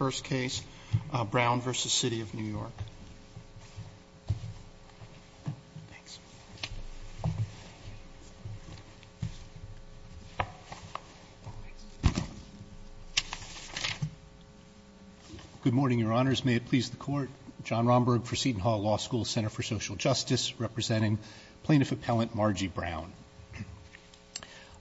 in the first case, Brown v. City of New York. Thanks. Good morning, Your Honors. May it please the Court. John Romberg for Seton Hall Law School Center for Social Justice, representing Plaintiff Appellant Margie Brown.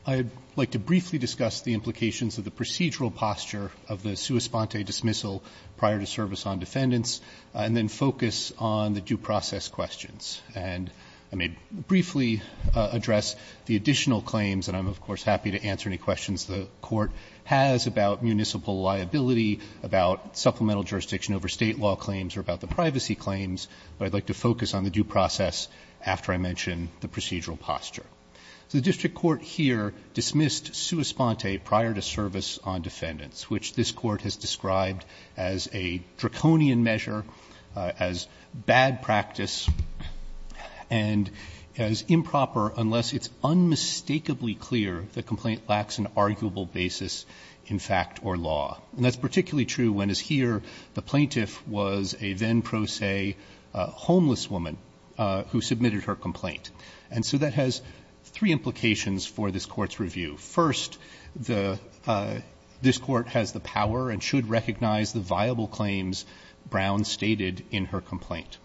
I would like to briefly discuss the implications of the procedural posture of the sua sponte dismissal prior to service on defendants, and then focus on the due process questions. And I may briefly address the additional claims, and I'm of course happy to answer any questions the Court has about municipal liability, about supplemental jurisdiction over state law claims, or about the privacy claims, but I'd like to focus on the due process after I mention the procedural posture. The District Court here dismissed sua sponte prior to service on defendants, which this Court has described as a draconian measure, as bad practice, and as improper unless it's unmistakably clear the complaint lacks an arguable basis in fact or law. And that's particularly true when, as here, the plaintiff was a then pro se homeless woman who submitted her complaint. And so that has three implications for this Court's review. First, this Court has the power and should recognize the viable claims Brown stated in her complaint.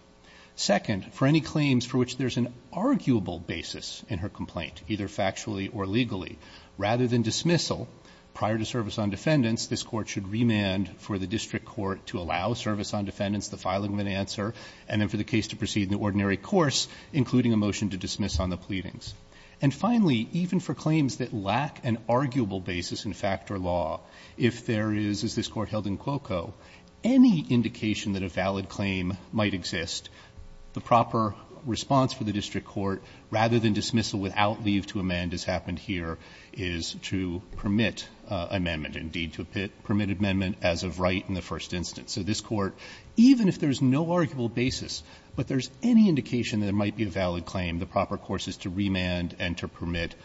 Second, for any claims for which there's an arguable basis in her complaint, either factually or legally, rather than dismissal prior to service on defendants, this Court should remand for the District Court to allow service on defendants the filing of an answer, and then for the case to proceed in the ordinary course, including a motion to dismiss on the pleadings. And finally, even for claims that lack an arguable basis in fact or law, if there is, as this Court held in Cuoco, any indication that a valid claim might exist, the proper response for the District Court, rather than dismissal without leave to amend, as happened here, is to permit amendment, indeed, to permit amendment as of right in the first instance. So this Court, even if there's no arguable basis, but there's any indication that there might be a valid claim, the proper course is to remand and to permit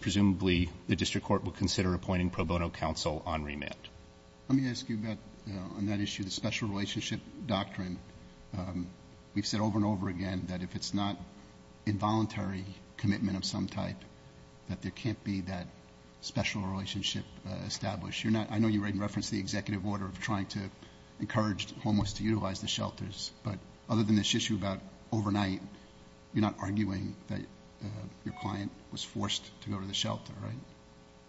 Presumably, the District Court will consider appointing pro bono counsel on remand. Let me ask you about, on that issue, the special relationship doctrine. We've said over and over again that if it's not involuntary commitment of some type, that there can't be that special relationship established. You're not, I know you referenced the executive order of trying to encourage homeless to utilize the shelters, but other than this issue about overnight, you're not arguing that your client was forced to go to the shelter, right?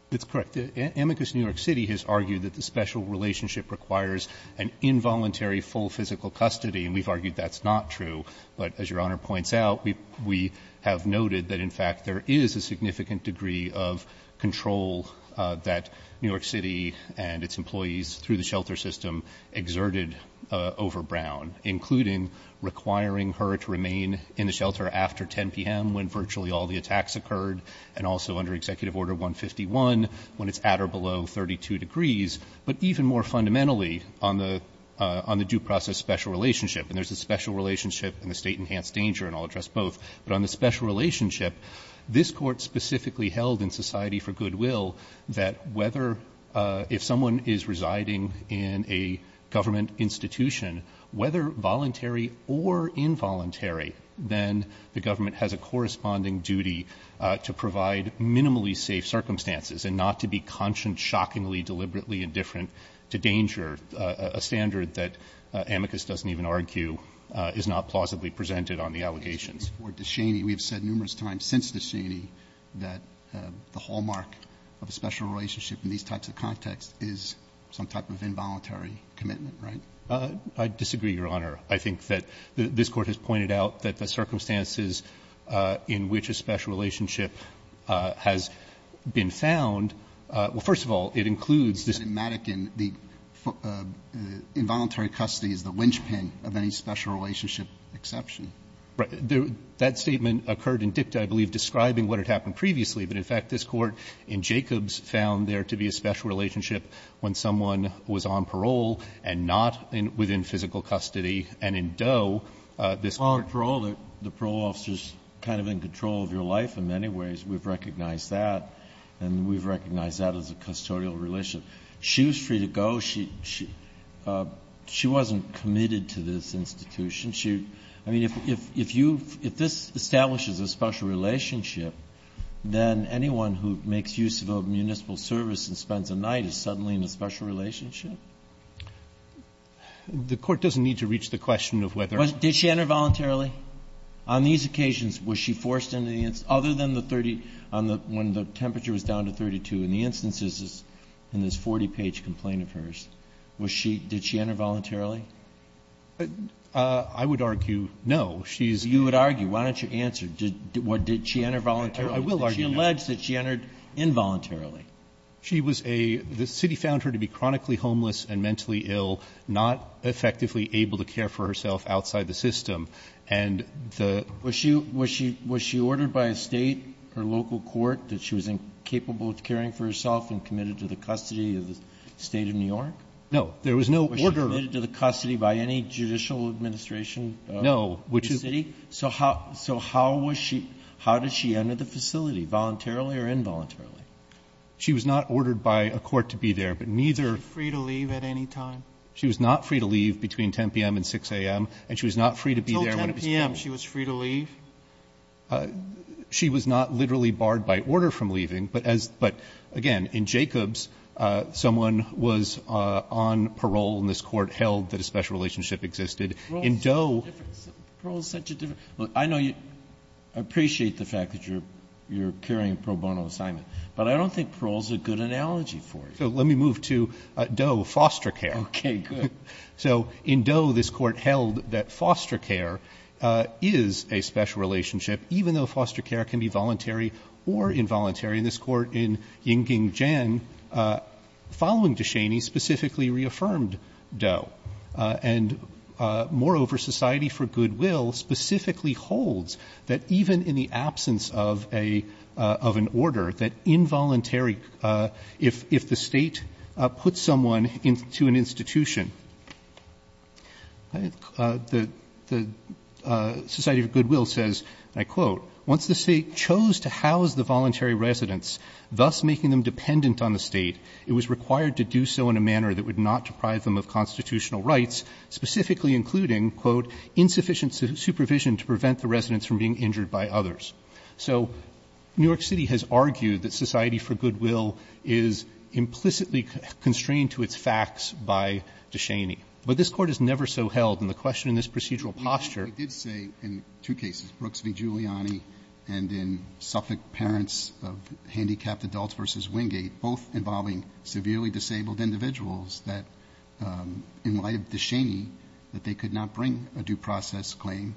That's correct. Amicus New York City has argued that the special relationship requires an involuntary full physical custody, and we've argued that's not true. But as Your Honor points out, we have noted that, in fact, there is a significant degree of control that New York City and its employees through the shelter system exerted over Brown, including requiring her to remain in the shelter after 10 PM when virtually all the attacks occurred, and also under Executive Order 151 when it's at or below 32 degrees. But even more fundamentally, on the due process special relationship, and there's a special relationship and a state enhanced danger, and I'll address both. But on the special relationship, this court specifically held in Society for Government Institution, whether voluntary or involuntary, then the government has a corresponding duty to provide minimally safe circumstances, and not to be conscious, shockingly, deliberately indifferent to danger, a standard that Amicus doesn't even argue is not plausibly presented on the allegations. For Descheny, we have said numerous times since Descheny that the hallmark of a special relationship in these types of contexts is some type of involuntary commitment, right? I disagree, Your Honor. I think that this Court has pointed out that the circumstances in which a special relationship has been found, well, first of all, it includes this. But in Madigan, the involuntary custody is the linchpin of any special relationship exception. Right. That statement occurred in dicta, I believe, describing what had happened previously. But in fact, this Court in Jacobs found there to be a special relationship when someone was on parole and not within physical custody, and in Doe, this Court On parole, the parole officer's kind of in control of your life in many ways. We've recognized that, and we've recognized that as a custodial relationship. She was free to go. She wasn't committed to this institution. I mean, if you've – if this establishes a special relationship, then anyone who makes use of a municipal service and spends a night is suddenly in a special relationship? The Court doesn't need to reach the question of whether or not – Did she enter voluntarily? On these occasions, was she forced into the – other than the 30 – on the – when the temperature was down to 32. In the instances in this 40-page complaint of hers, was she – did she enter voluntarily? I would argue no. She's – You would argue. Why don't you answer? Did – did she enter voluntarily? I will argue no. Did she allege that she entered involuntarily? She was a – the city found her to be chronically homeless and mentally ill, not effectively able to care for herself outside the system. And the – Was she – was she – was she ordered by a state or local court that she was incapable of caring for herself and committed to the custody of the State of New York? No. There was no order – Was she committed to the custody by any judicial administration of the city? No, which is – So how – so how was she – how did she enter the facility, voluntarily or involuntarily? She was not ordered by a court to be there, but neither – Was she free to leave at any time? She was not free to leave between 10 p.m. and 6 a.m., and she was not free to be there when it was – Until 10 p.m., she was free to leave? She was not literally barred by order from leaving, but as – but again, in Jacobs, someone was on parole, and this court held that a special relationship existed. In Doe – Parole is such a different – parole is such a different – look, I know you – I appreciate the fact that you're – you're carrying a pro bono assignment, but I don't think parole is a good analogy for it. So let me move to Doe, foster care. Okay, good. So in Doe, this court held that foster care is a special relationship, even though foster care can be voluntary or involuntary. And this court in Yingjing Jian, following De Cheney, specifically reaffirmed Doe. And moreover, Society for Goodwill specifically holds that even in the absence of a – of an order, that involuntary – if – if the State puts someone into an institution, the – the Society for Goodwill says, and I quote, "...once the State chose to house the voluntary residents, thus making them dependent on the State, it was required to do so in a manner that would not deprive them of constitutional rights, specifically including, quote, insufficient supervision to prevent the residents from being injured by others." So New York City has argued that Society for Goodwill is implicitly constrained to its facts by De Cheney. But this Court has never so held, and the question in this procedural posture I did say in two cases, Brooks v. Giuliani and in Suffolk, parents of handicapped adults versus Wingate, both involving severely disabled individuals that, in light of De Cheney, that they could not bring a due process claim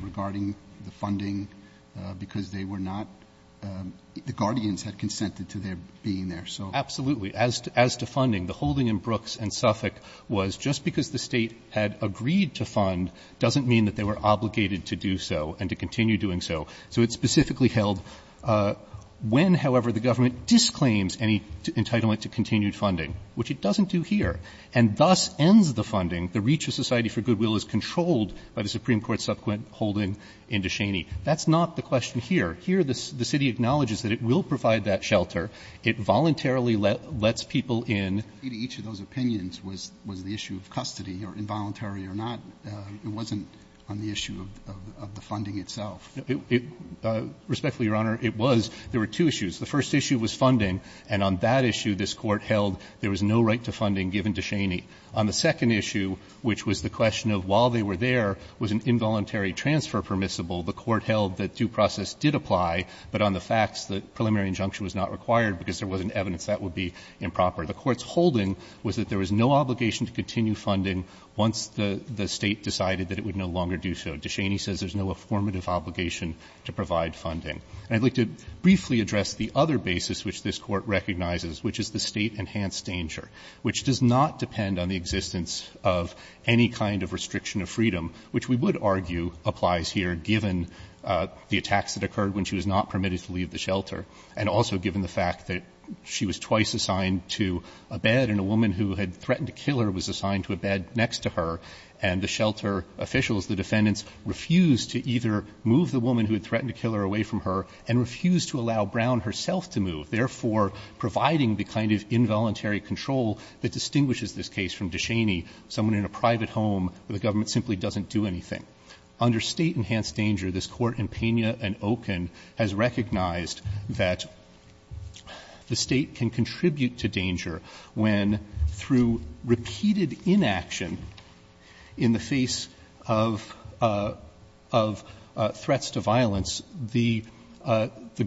regarding the funding because they were not – the guardians had consented to their being there. Absolutely. As to funding, the holding in Brooks and Suffolk was just because the State had agreed to fund doesn't mean that they were obligated to do so and to continue doing so. So it specifically held when, however, the government disclaims any entitlement to continued funding, which it doesn't do here, and thus ends the funding. The reach of Society for Goodwill is controlled by the Supreme Court's subsequent holding in De Cheney. That's not the question here. Here, the City acknowledges that it will provide that shelter. It voluntarily lets people in. Each of those opinions was the issue of custody or involuntary or not. It wasn't on the issue of the funding itself. Respectfully, Your Honor, it was. There were two issues. The first issue was funding, and on that issue, this Court held there was no right to funding given De Cheney. On the second issue, which was the question of while they were there, was an involuntary transfer permissible, the Court held that due process did apply, but on the facts that preliminary injunction was not required because there wasn't evidence that would be improper. The Court's holding was that there was no obligation to continue funding once the State decided that it would no longer do so. De Cheney says there's no affirmative obligation to provide funding. And I'd like to briefly address the other basis which this Court recognizes, which is the State-enhanced danger, which does not depend on the existence of any kind of restriction of freedom, which we would argue applies here, given the attacks that occurred when she was not permitted to leave the shelter, and also given the fact that she was assigned to a bed and a woman who had threatened to kill her was assigned to a bed next to her, and the shelter officials, the defendants, refused to either move the woman who had threatened to kill her away from her and refused to allow Brown herself to move, therefore providing the kind of involuntary control that distinguishes this case from De Cheney, someone in a private home where the government simply doesn't do anything. Under State-enhanced danger, this Court in Pena and Oken has recognized that the State can contribute to danger when, through repeated inaction in the face of threats to violence, the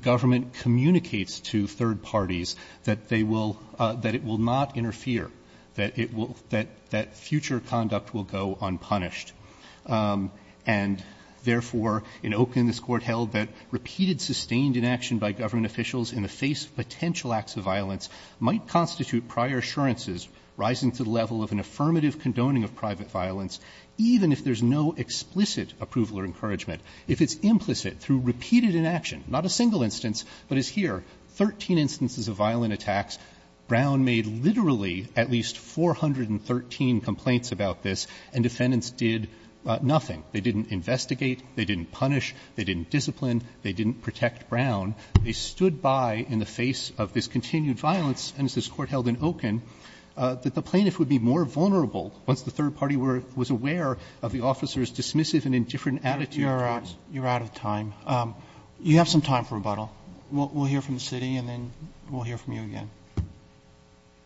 government communicates to third parties that they will not interfere, that future conduct will go unpunished. And therefore, in Oken, this Court held that repeated sustained inaction by government officials in the face of potential acts of violence might constitute prior assurances rising to the level of an affirmative condoning of private violence, even if there is no explicit approval or encouragement, if it's implicit through repeated inaction, not a single instance, but as here, 13 instances of violent attacks. Brown made literally at least 413 complaints about this, and defendants did nothing. They didn't investigate. They didn't punish. They didn't discipline. They didn't protect Brown. They stood by in the face of this continued violence, and as this Court held in Oken, that the plaintiff would be more vulnerable once the third party was aware of the officer's dismissive and indifferent attitude. Roberts. You're out of time. You have some time for rebuttal. We'll hear from the City, and then we'll hear from you again.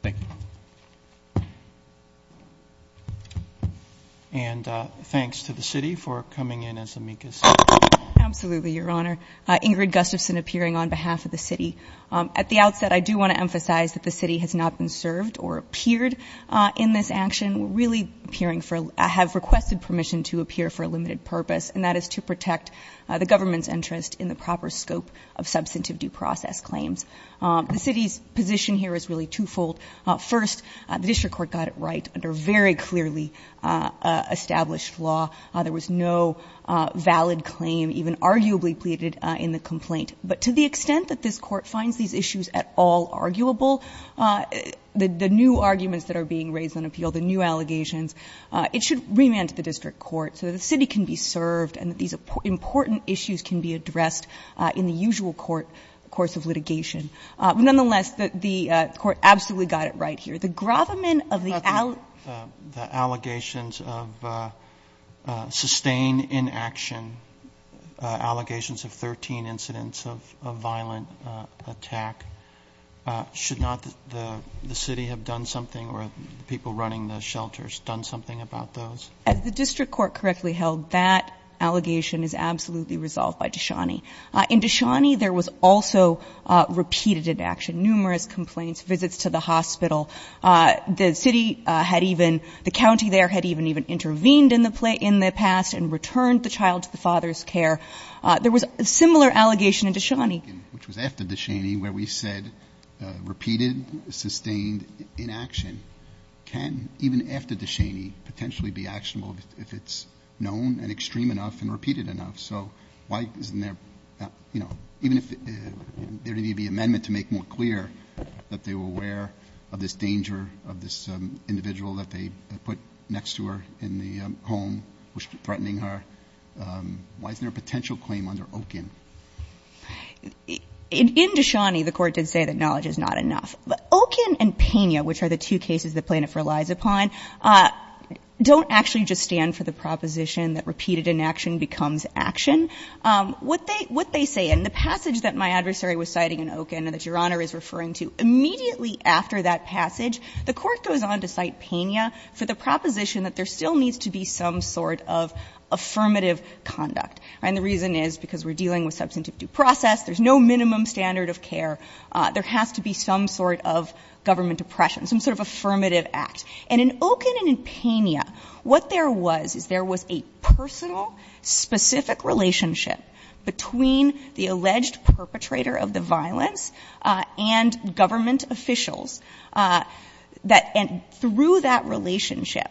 Thank you. And thanks to the City for coming in as Amika said. Absolutely, Your Honor. Ingrid Gustafson appearing on behalf of the City. At the outset, I do want to emphasize that the City has not been served or appeared in this action. We're really appearing for, have requested permission to appear for a limited purpose, and that is to protect the government's interest in the proper scope of substantive due process claims. The City's position here is really twofold. First, the District Court got it right under very clearly established law. There was no valid claim, even arguably pleaded in the complaint. But to the extent that this Court finds these issues at all arguable, the new arguments that are being raised on appeal, the new allegations, it should remand to the District Court so that the City can be served and that these important issues can be addressed in the usual court, the course of litigation. Nonetheless, the Court absolutely got it right here. The government of the allegations of sustained inaction, allegations of 13 incidents of violent attack, should not the City have done something or the people running the shelters done something about those? As the District Court correctly held, that allegation is absolutely resolved by Dishani. In Dishani, there was also repeated inaction, numerous complaints, visits to the hospital. The City had even, the county there had even intervened in the past and returned the child to the father's care. There was a similar allegation in Dishani. Which was after Dishani where we said repeated, sustained inaction can, even after Dishani, potentially be actionable if it's known and extreme enough and repeated enough. So why isn't there, you know, even if there needed to be an amendment to make more clear that they were aware of this danger, of this individual that they put next to her in the home, threatening her. Why isn't there a potential claim under Okin? In Dishani, the Court did say that knowledge is not enough. Okin and Pena, which are the two cases that plaintiff relies upon, don't actually just stand for the proposition that repeated inaction becomes action. What they say in the passage that my adversary was citing in Okin and that Your Honor is referring to, immediately after that passage, the Court goes on to cite Pena for the proposition that there still needs to be some sort of affirmative conduct. And the reason is because we're dealing with substantive due process, there's no minimum standard of care. There has to be some sort of government oppression, some sort of affirmative act. And in Okin and in Pena, what there was, is there was a personal, specific relationship between the alleged perpetrator of the violence and government officials that, and through that relationship,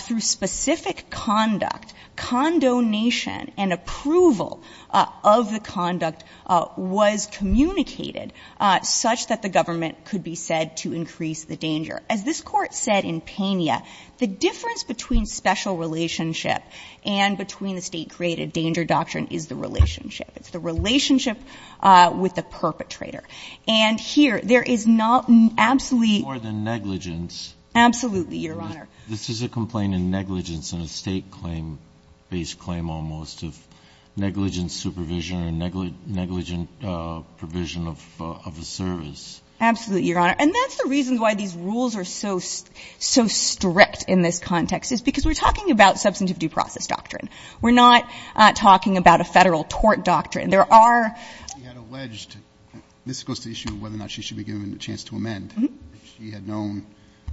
through specific conduct, condonation and approval of the conduct, was communicated such that the government could be said to increase the danger. As this Court said in Pena, the difference between special relationship and between the state-created danger doctrine is the relationship. It's the relationship with the perpetrator. And here, there is not absolutely... More than negligence. Absolutely, Your Honor. This is a complaint in negligence in a state claim, a government-based claim almost, of negligent supervision or negligent provision of a service. Absolutely, Your Honor. And that's the reason why these rules are so strict in this context, is because we're talking about substantive due process doctrine. We're not talking about a federal tort doctrine. There are... She had alleged... This goes to the issue of whether or not she should be given a chance to amend. If she had known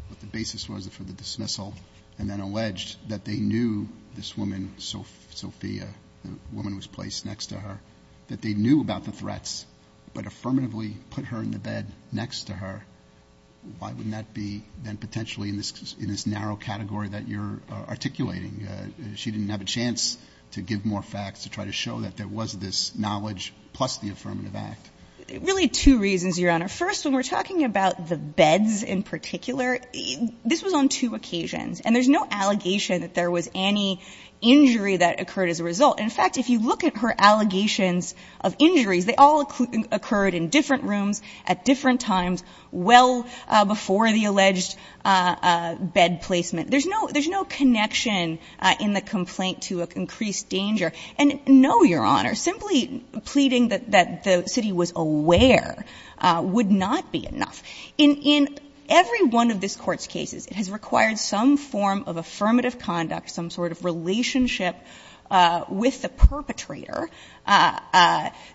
what the basis was for the dismissal and then alleged that they knew this woman, Sophia, the woman who was placed next to her, that they knew about the threats, but affirmatively put her in the bed next to her, why wouldn't that be then potentially in this narrow category that you're articulating? She didn't have a chance to give more facts to try to show that there was this knowledge plus the affirmative act. Really, two reasons, Your Honor. First, when we're talking about the beds in particular, this was on two occasions. And there's no allegation that there was any injury that occurred as a result. In fact, if you look at her allegations of injuries, they all occurred in different rooms, at different times, well before the alleged bed placement. There's no connection in the complaint to an increased danger. And no, Your Honor, simply pleading that the city was aware would not be enough. In every one of this Court's cases, it has required some form of affirmative conduct, some sort of relationship with the perpetrator,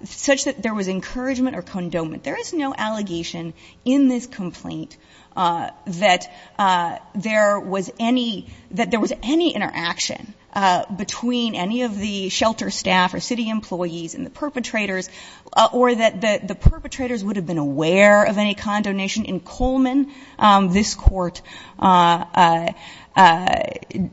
such that there was encouragement or condonement. There is no allegation in this complaint that there was any interaction between any of the shelter staff or city employees and the perpetrators or that the perpetrators would have been aware of any condonation. In Coleman, this Court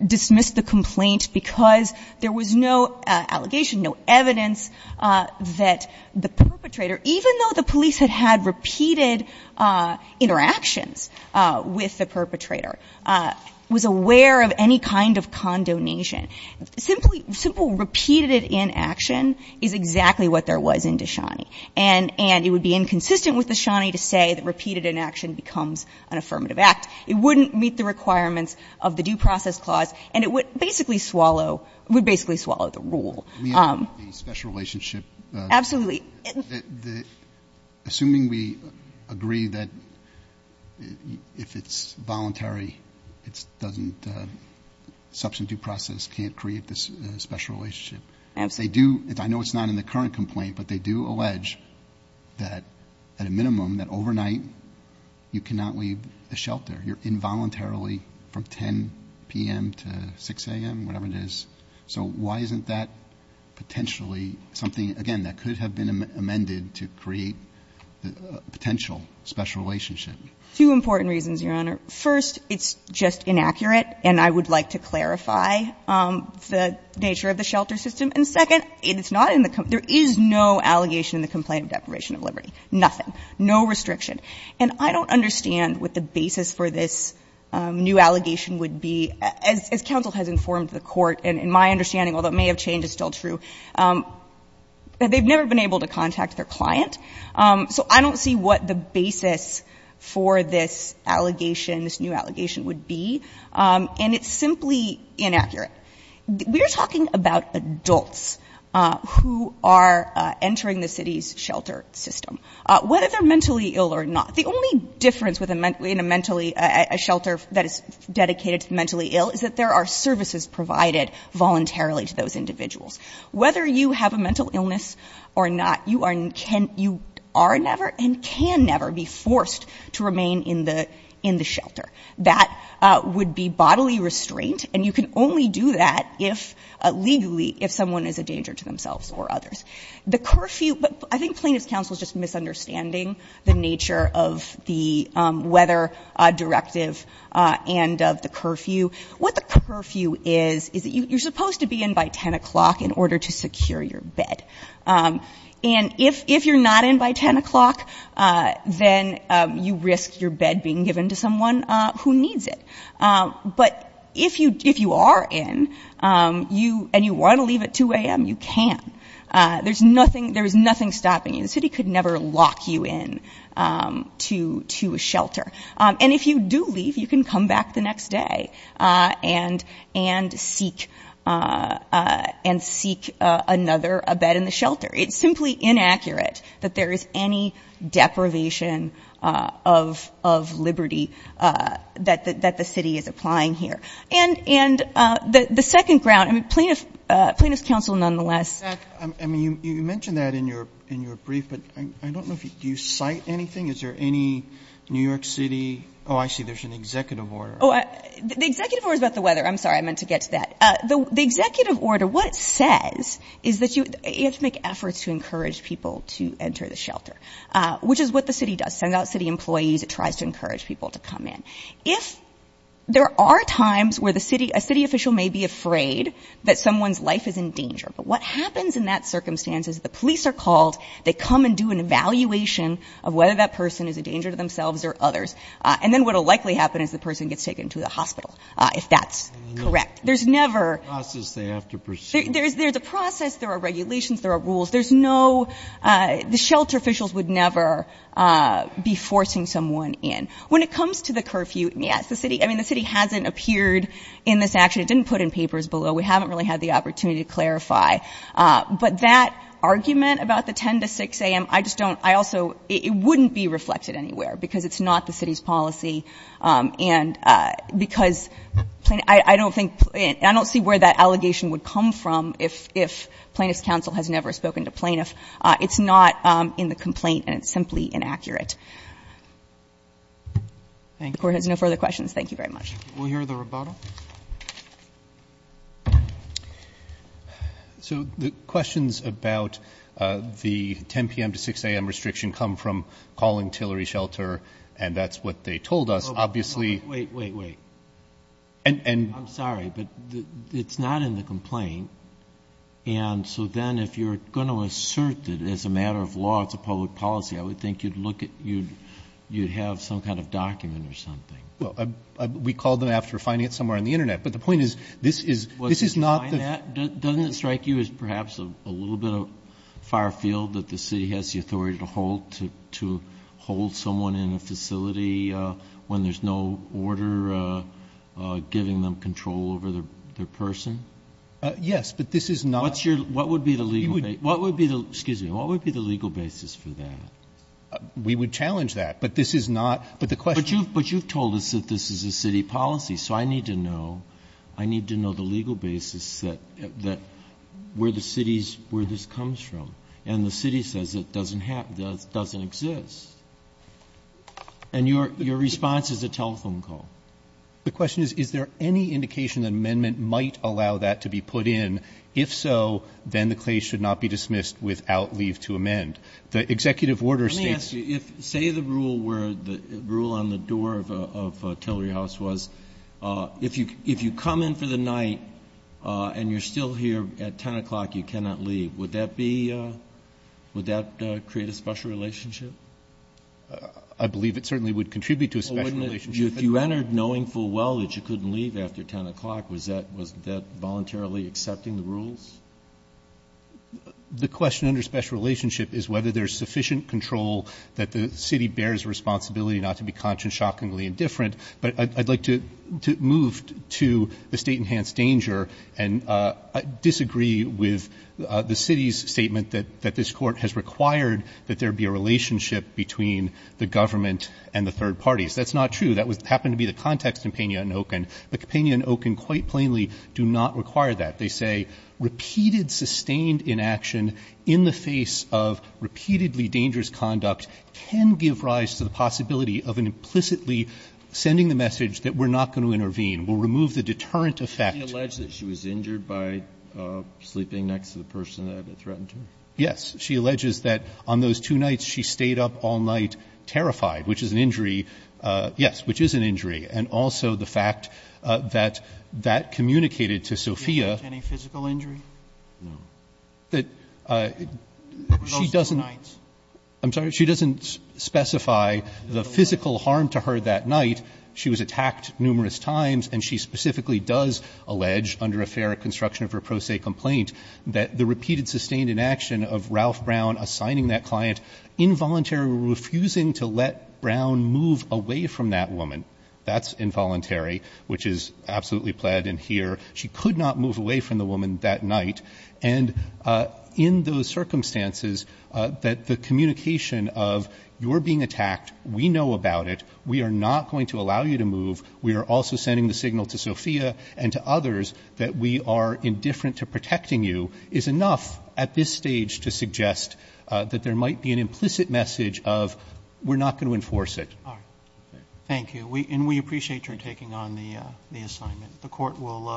dismissed the complaint because there was no allegation, no evidence, that the perpetrator, even though the police had had repeated interactions with the perpetrator, was aware of any kind of condonation. Simple repeated inaction is exactly what there was in Deshani. And it would be inconsistent with Deshani to say that repeated inaction becomes an affirmative act. It wouldn't meet the requirements of the Due Process Clause and it would basically swallow the rule. We have a special relationship. Absolutely. Assuming we agree that if it's voluntary, substantive process can't create this special relationship. Absolutely. I know it's not in the current complaint, but they do allege that at a minimum, that overnight you cannot leave the shelter. You're involuntarily from 10 p.m. to 6 a.m., whatever it is. So why isn't that potentially something, again, that could have been amended to create a potential special relationship? Two important reasons, Your Honor. First, it's just inaccurate and I would like to clarify the nature of the shelter system. And second, it's not in the complaint. There is no allegation in the complaint of deprivation of liberty. Nothing. No restriction. And I don't understand what the basis for this new allegation would be. As counsel has informed the Court, and in my understanding, although it may have changed, it's still true, they've never been able to contact their client. So I don't see what the basis for this new allegation would be. And it's simply inaccurate. We're talking about adults who are entering the city's shelter system, whether they're mentally ill or not. The only difference in a shelter that is dedicated to the mentally ill is that there are services provided voluntarily to those individuals. Whether you have a mental illness or not, you are never and can never be forced to remain in the shelter. That would be bodily restraint, and you can only do that legally if someone is a danger to themselves or others. The curfew, but I think plaintiff's counsel is just misunderstanding the nature of the weather directive and of the curfew. What the curfew is, is that you're supposed to be in by 10 o'clock in order to secure your bed. And if you're not in by 10 o'clock, then you risk your bed being given to someone who needs it. But if you are in, and you want to leave at 2 a.m., you can. There's nothing stopping you. The city could never lock you in to a shelter. And if you do leave, you can come back the next day and seek another bed in the shelter. It's simply inaccurate that there is any deprivation of liberty that the city is applying here. And the second ground, plaintiff's counsel nonetheless. You mentioned that in your brief, but I don't know if you cite anything. Is there any New York City? Oh, I see, there's an executive order. Oh, the executive order is about the weather. I'm sorry, I meant to get to that. The executive order, what it says is that you have to make efforts to encourage people to enter the shelter, which is what the city does. It sends out city employees. It tries to encourage people to come in. If there are times where a city official may be afraid that someone's life is in danger, but what happens in that circumstance is the police are called. They come and do an evaluation of whether that person is a danger to themselves or others. And then what will likely happen is the person gets taken to the hospital, if that's correct. There's never... There's a process they have to pursue. There's a process. There are regulations. There are rules. There's no, the shelter officials would never be forcing someone in. When it comes to the curfew, yes, the city, I mean, the city hasn't appeared in this action. It didn't put in papers below. We haven't really had the opportunity to clarify. But that argument about the 10 to 6 a.m., I just don't, I also, it wouldn't be reflected anywhere because it's not the city's policy. And because plaintiff, I don't think, I don't see where that allegation would come from if plaintiff's counsel has never spoken to plaintiff. It's not in the complaint and it's simply inaccurate. The Court has no further questions. Thank you very much. We'll hear the rebuttal. So the questions about the 10 p.m. to 6 a.m. restriction come from calling Tillery Shelter, and that's what they told us. Obviously... Wait, wait, wait. And... I'm sorry, but it's not in the complaint. And so then if you're going to assert that it's a matter of law, it's a public policy, I would think you'd look at, you'd have some kind of document or something. Well, we called them after finding it somewhere on the Internet. But the point is, this is not... Doesn't it strike you as perhaps a little bit of far field that the city has the authority to hold someone in a facility when there's no order giving them control over their person? Yes, but this is not... What's your... What would be the legal... What would be the... Excuse me. What would be the legal basis for that? We would challenge that. But this is not... But the question... But you've told us that this is a city policy, so I need to know. I need to know the legal basis that... where the city's... where this comes from. And the city says it doesn't have... doesn't exist. And your response is a telephone call. The question is, is there any indication that an amendment might allow that to be put in? If so, then the case should not be dismissed without leave to amend. The executive order states... Let me ask you. If, say, the rule were... the rule on the door of Tillery House was, if you come in for the night and you're still here at 10 o'clock, you cannot leave. Would that be... Would that create a special relationship? I believe it certainly would contribute to a special relationship. If you entered knowing full well that you couldn't leave after 10 o'clock, was that voluntarily accepting the rules? The question under special relationship is whether there's sufficient control that the city bears responsibility not to be conscious, shockingly indifferent. But I'd like to move to the state-enhanced danger and disagree with the city's statement that this court has required that there be a relationship between the government and the third parties. That's not true. That happened to be the context in Pena and Oken. But Pena and Oken quite plainly do not require that. They say, repeated sustained inaction in the face of repeatedly dangerous conduct can give rise to the possibility of an implicitly sending the message that we're not going to intervene. We'll remove the deterrent effect. Did she allege that she was injured by sleeping next to the person that threatened her? Yes. She alleges that on those two nights, she stayed up all night terrified, which is an injury. Yes, which is an injury. And also the fact that that communicated to Sophia... Did she get any physical injury? No. That she doesn't... Those two nights. I'm sorry. She doesn't specify the physical harm to her that night. She was attacked numerous times and she specifically does allege, under a fair construction of her pro se complaint, that the repeated sustained inaction of Ralph Brown assigning that client involuntarily refusing to let Brown move away from that woman. That's involuntary, which is absolutely plaid in here. She could not move away from the woman that night. And in those circumstances, that the communication of you're being attacked, we know about it, we are not going to allow you to move, we are also sending the signal to Sophia and to others that we are indifferent to protecting you, is enough at this stage to suggest that there might be an implicit message of we're not going to enforce it. All right. Thank you. And we appreciate your taking on the assignment.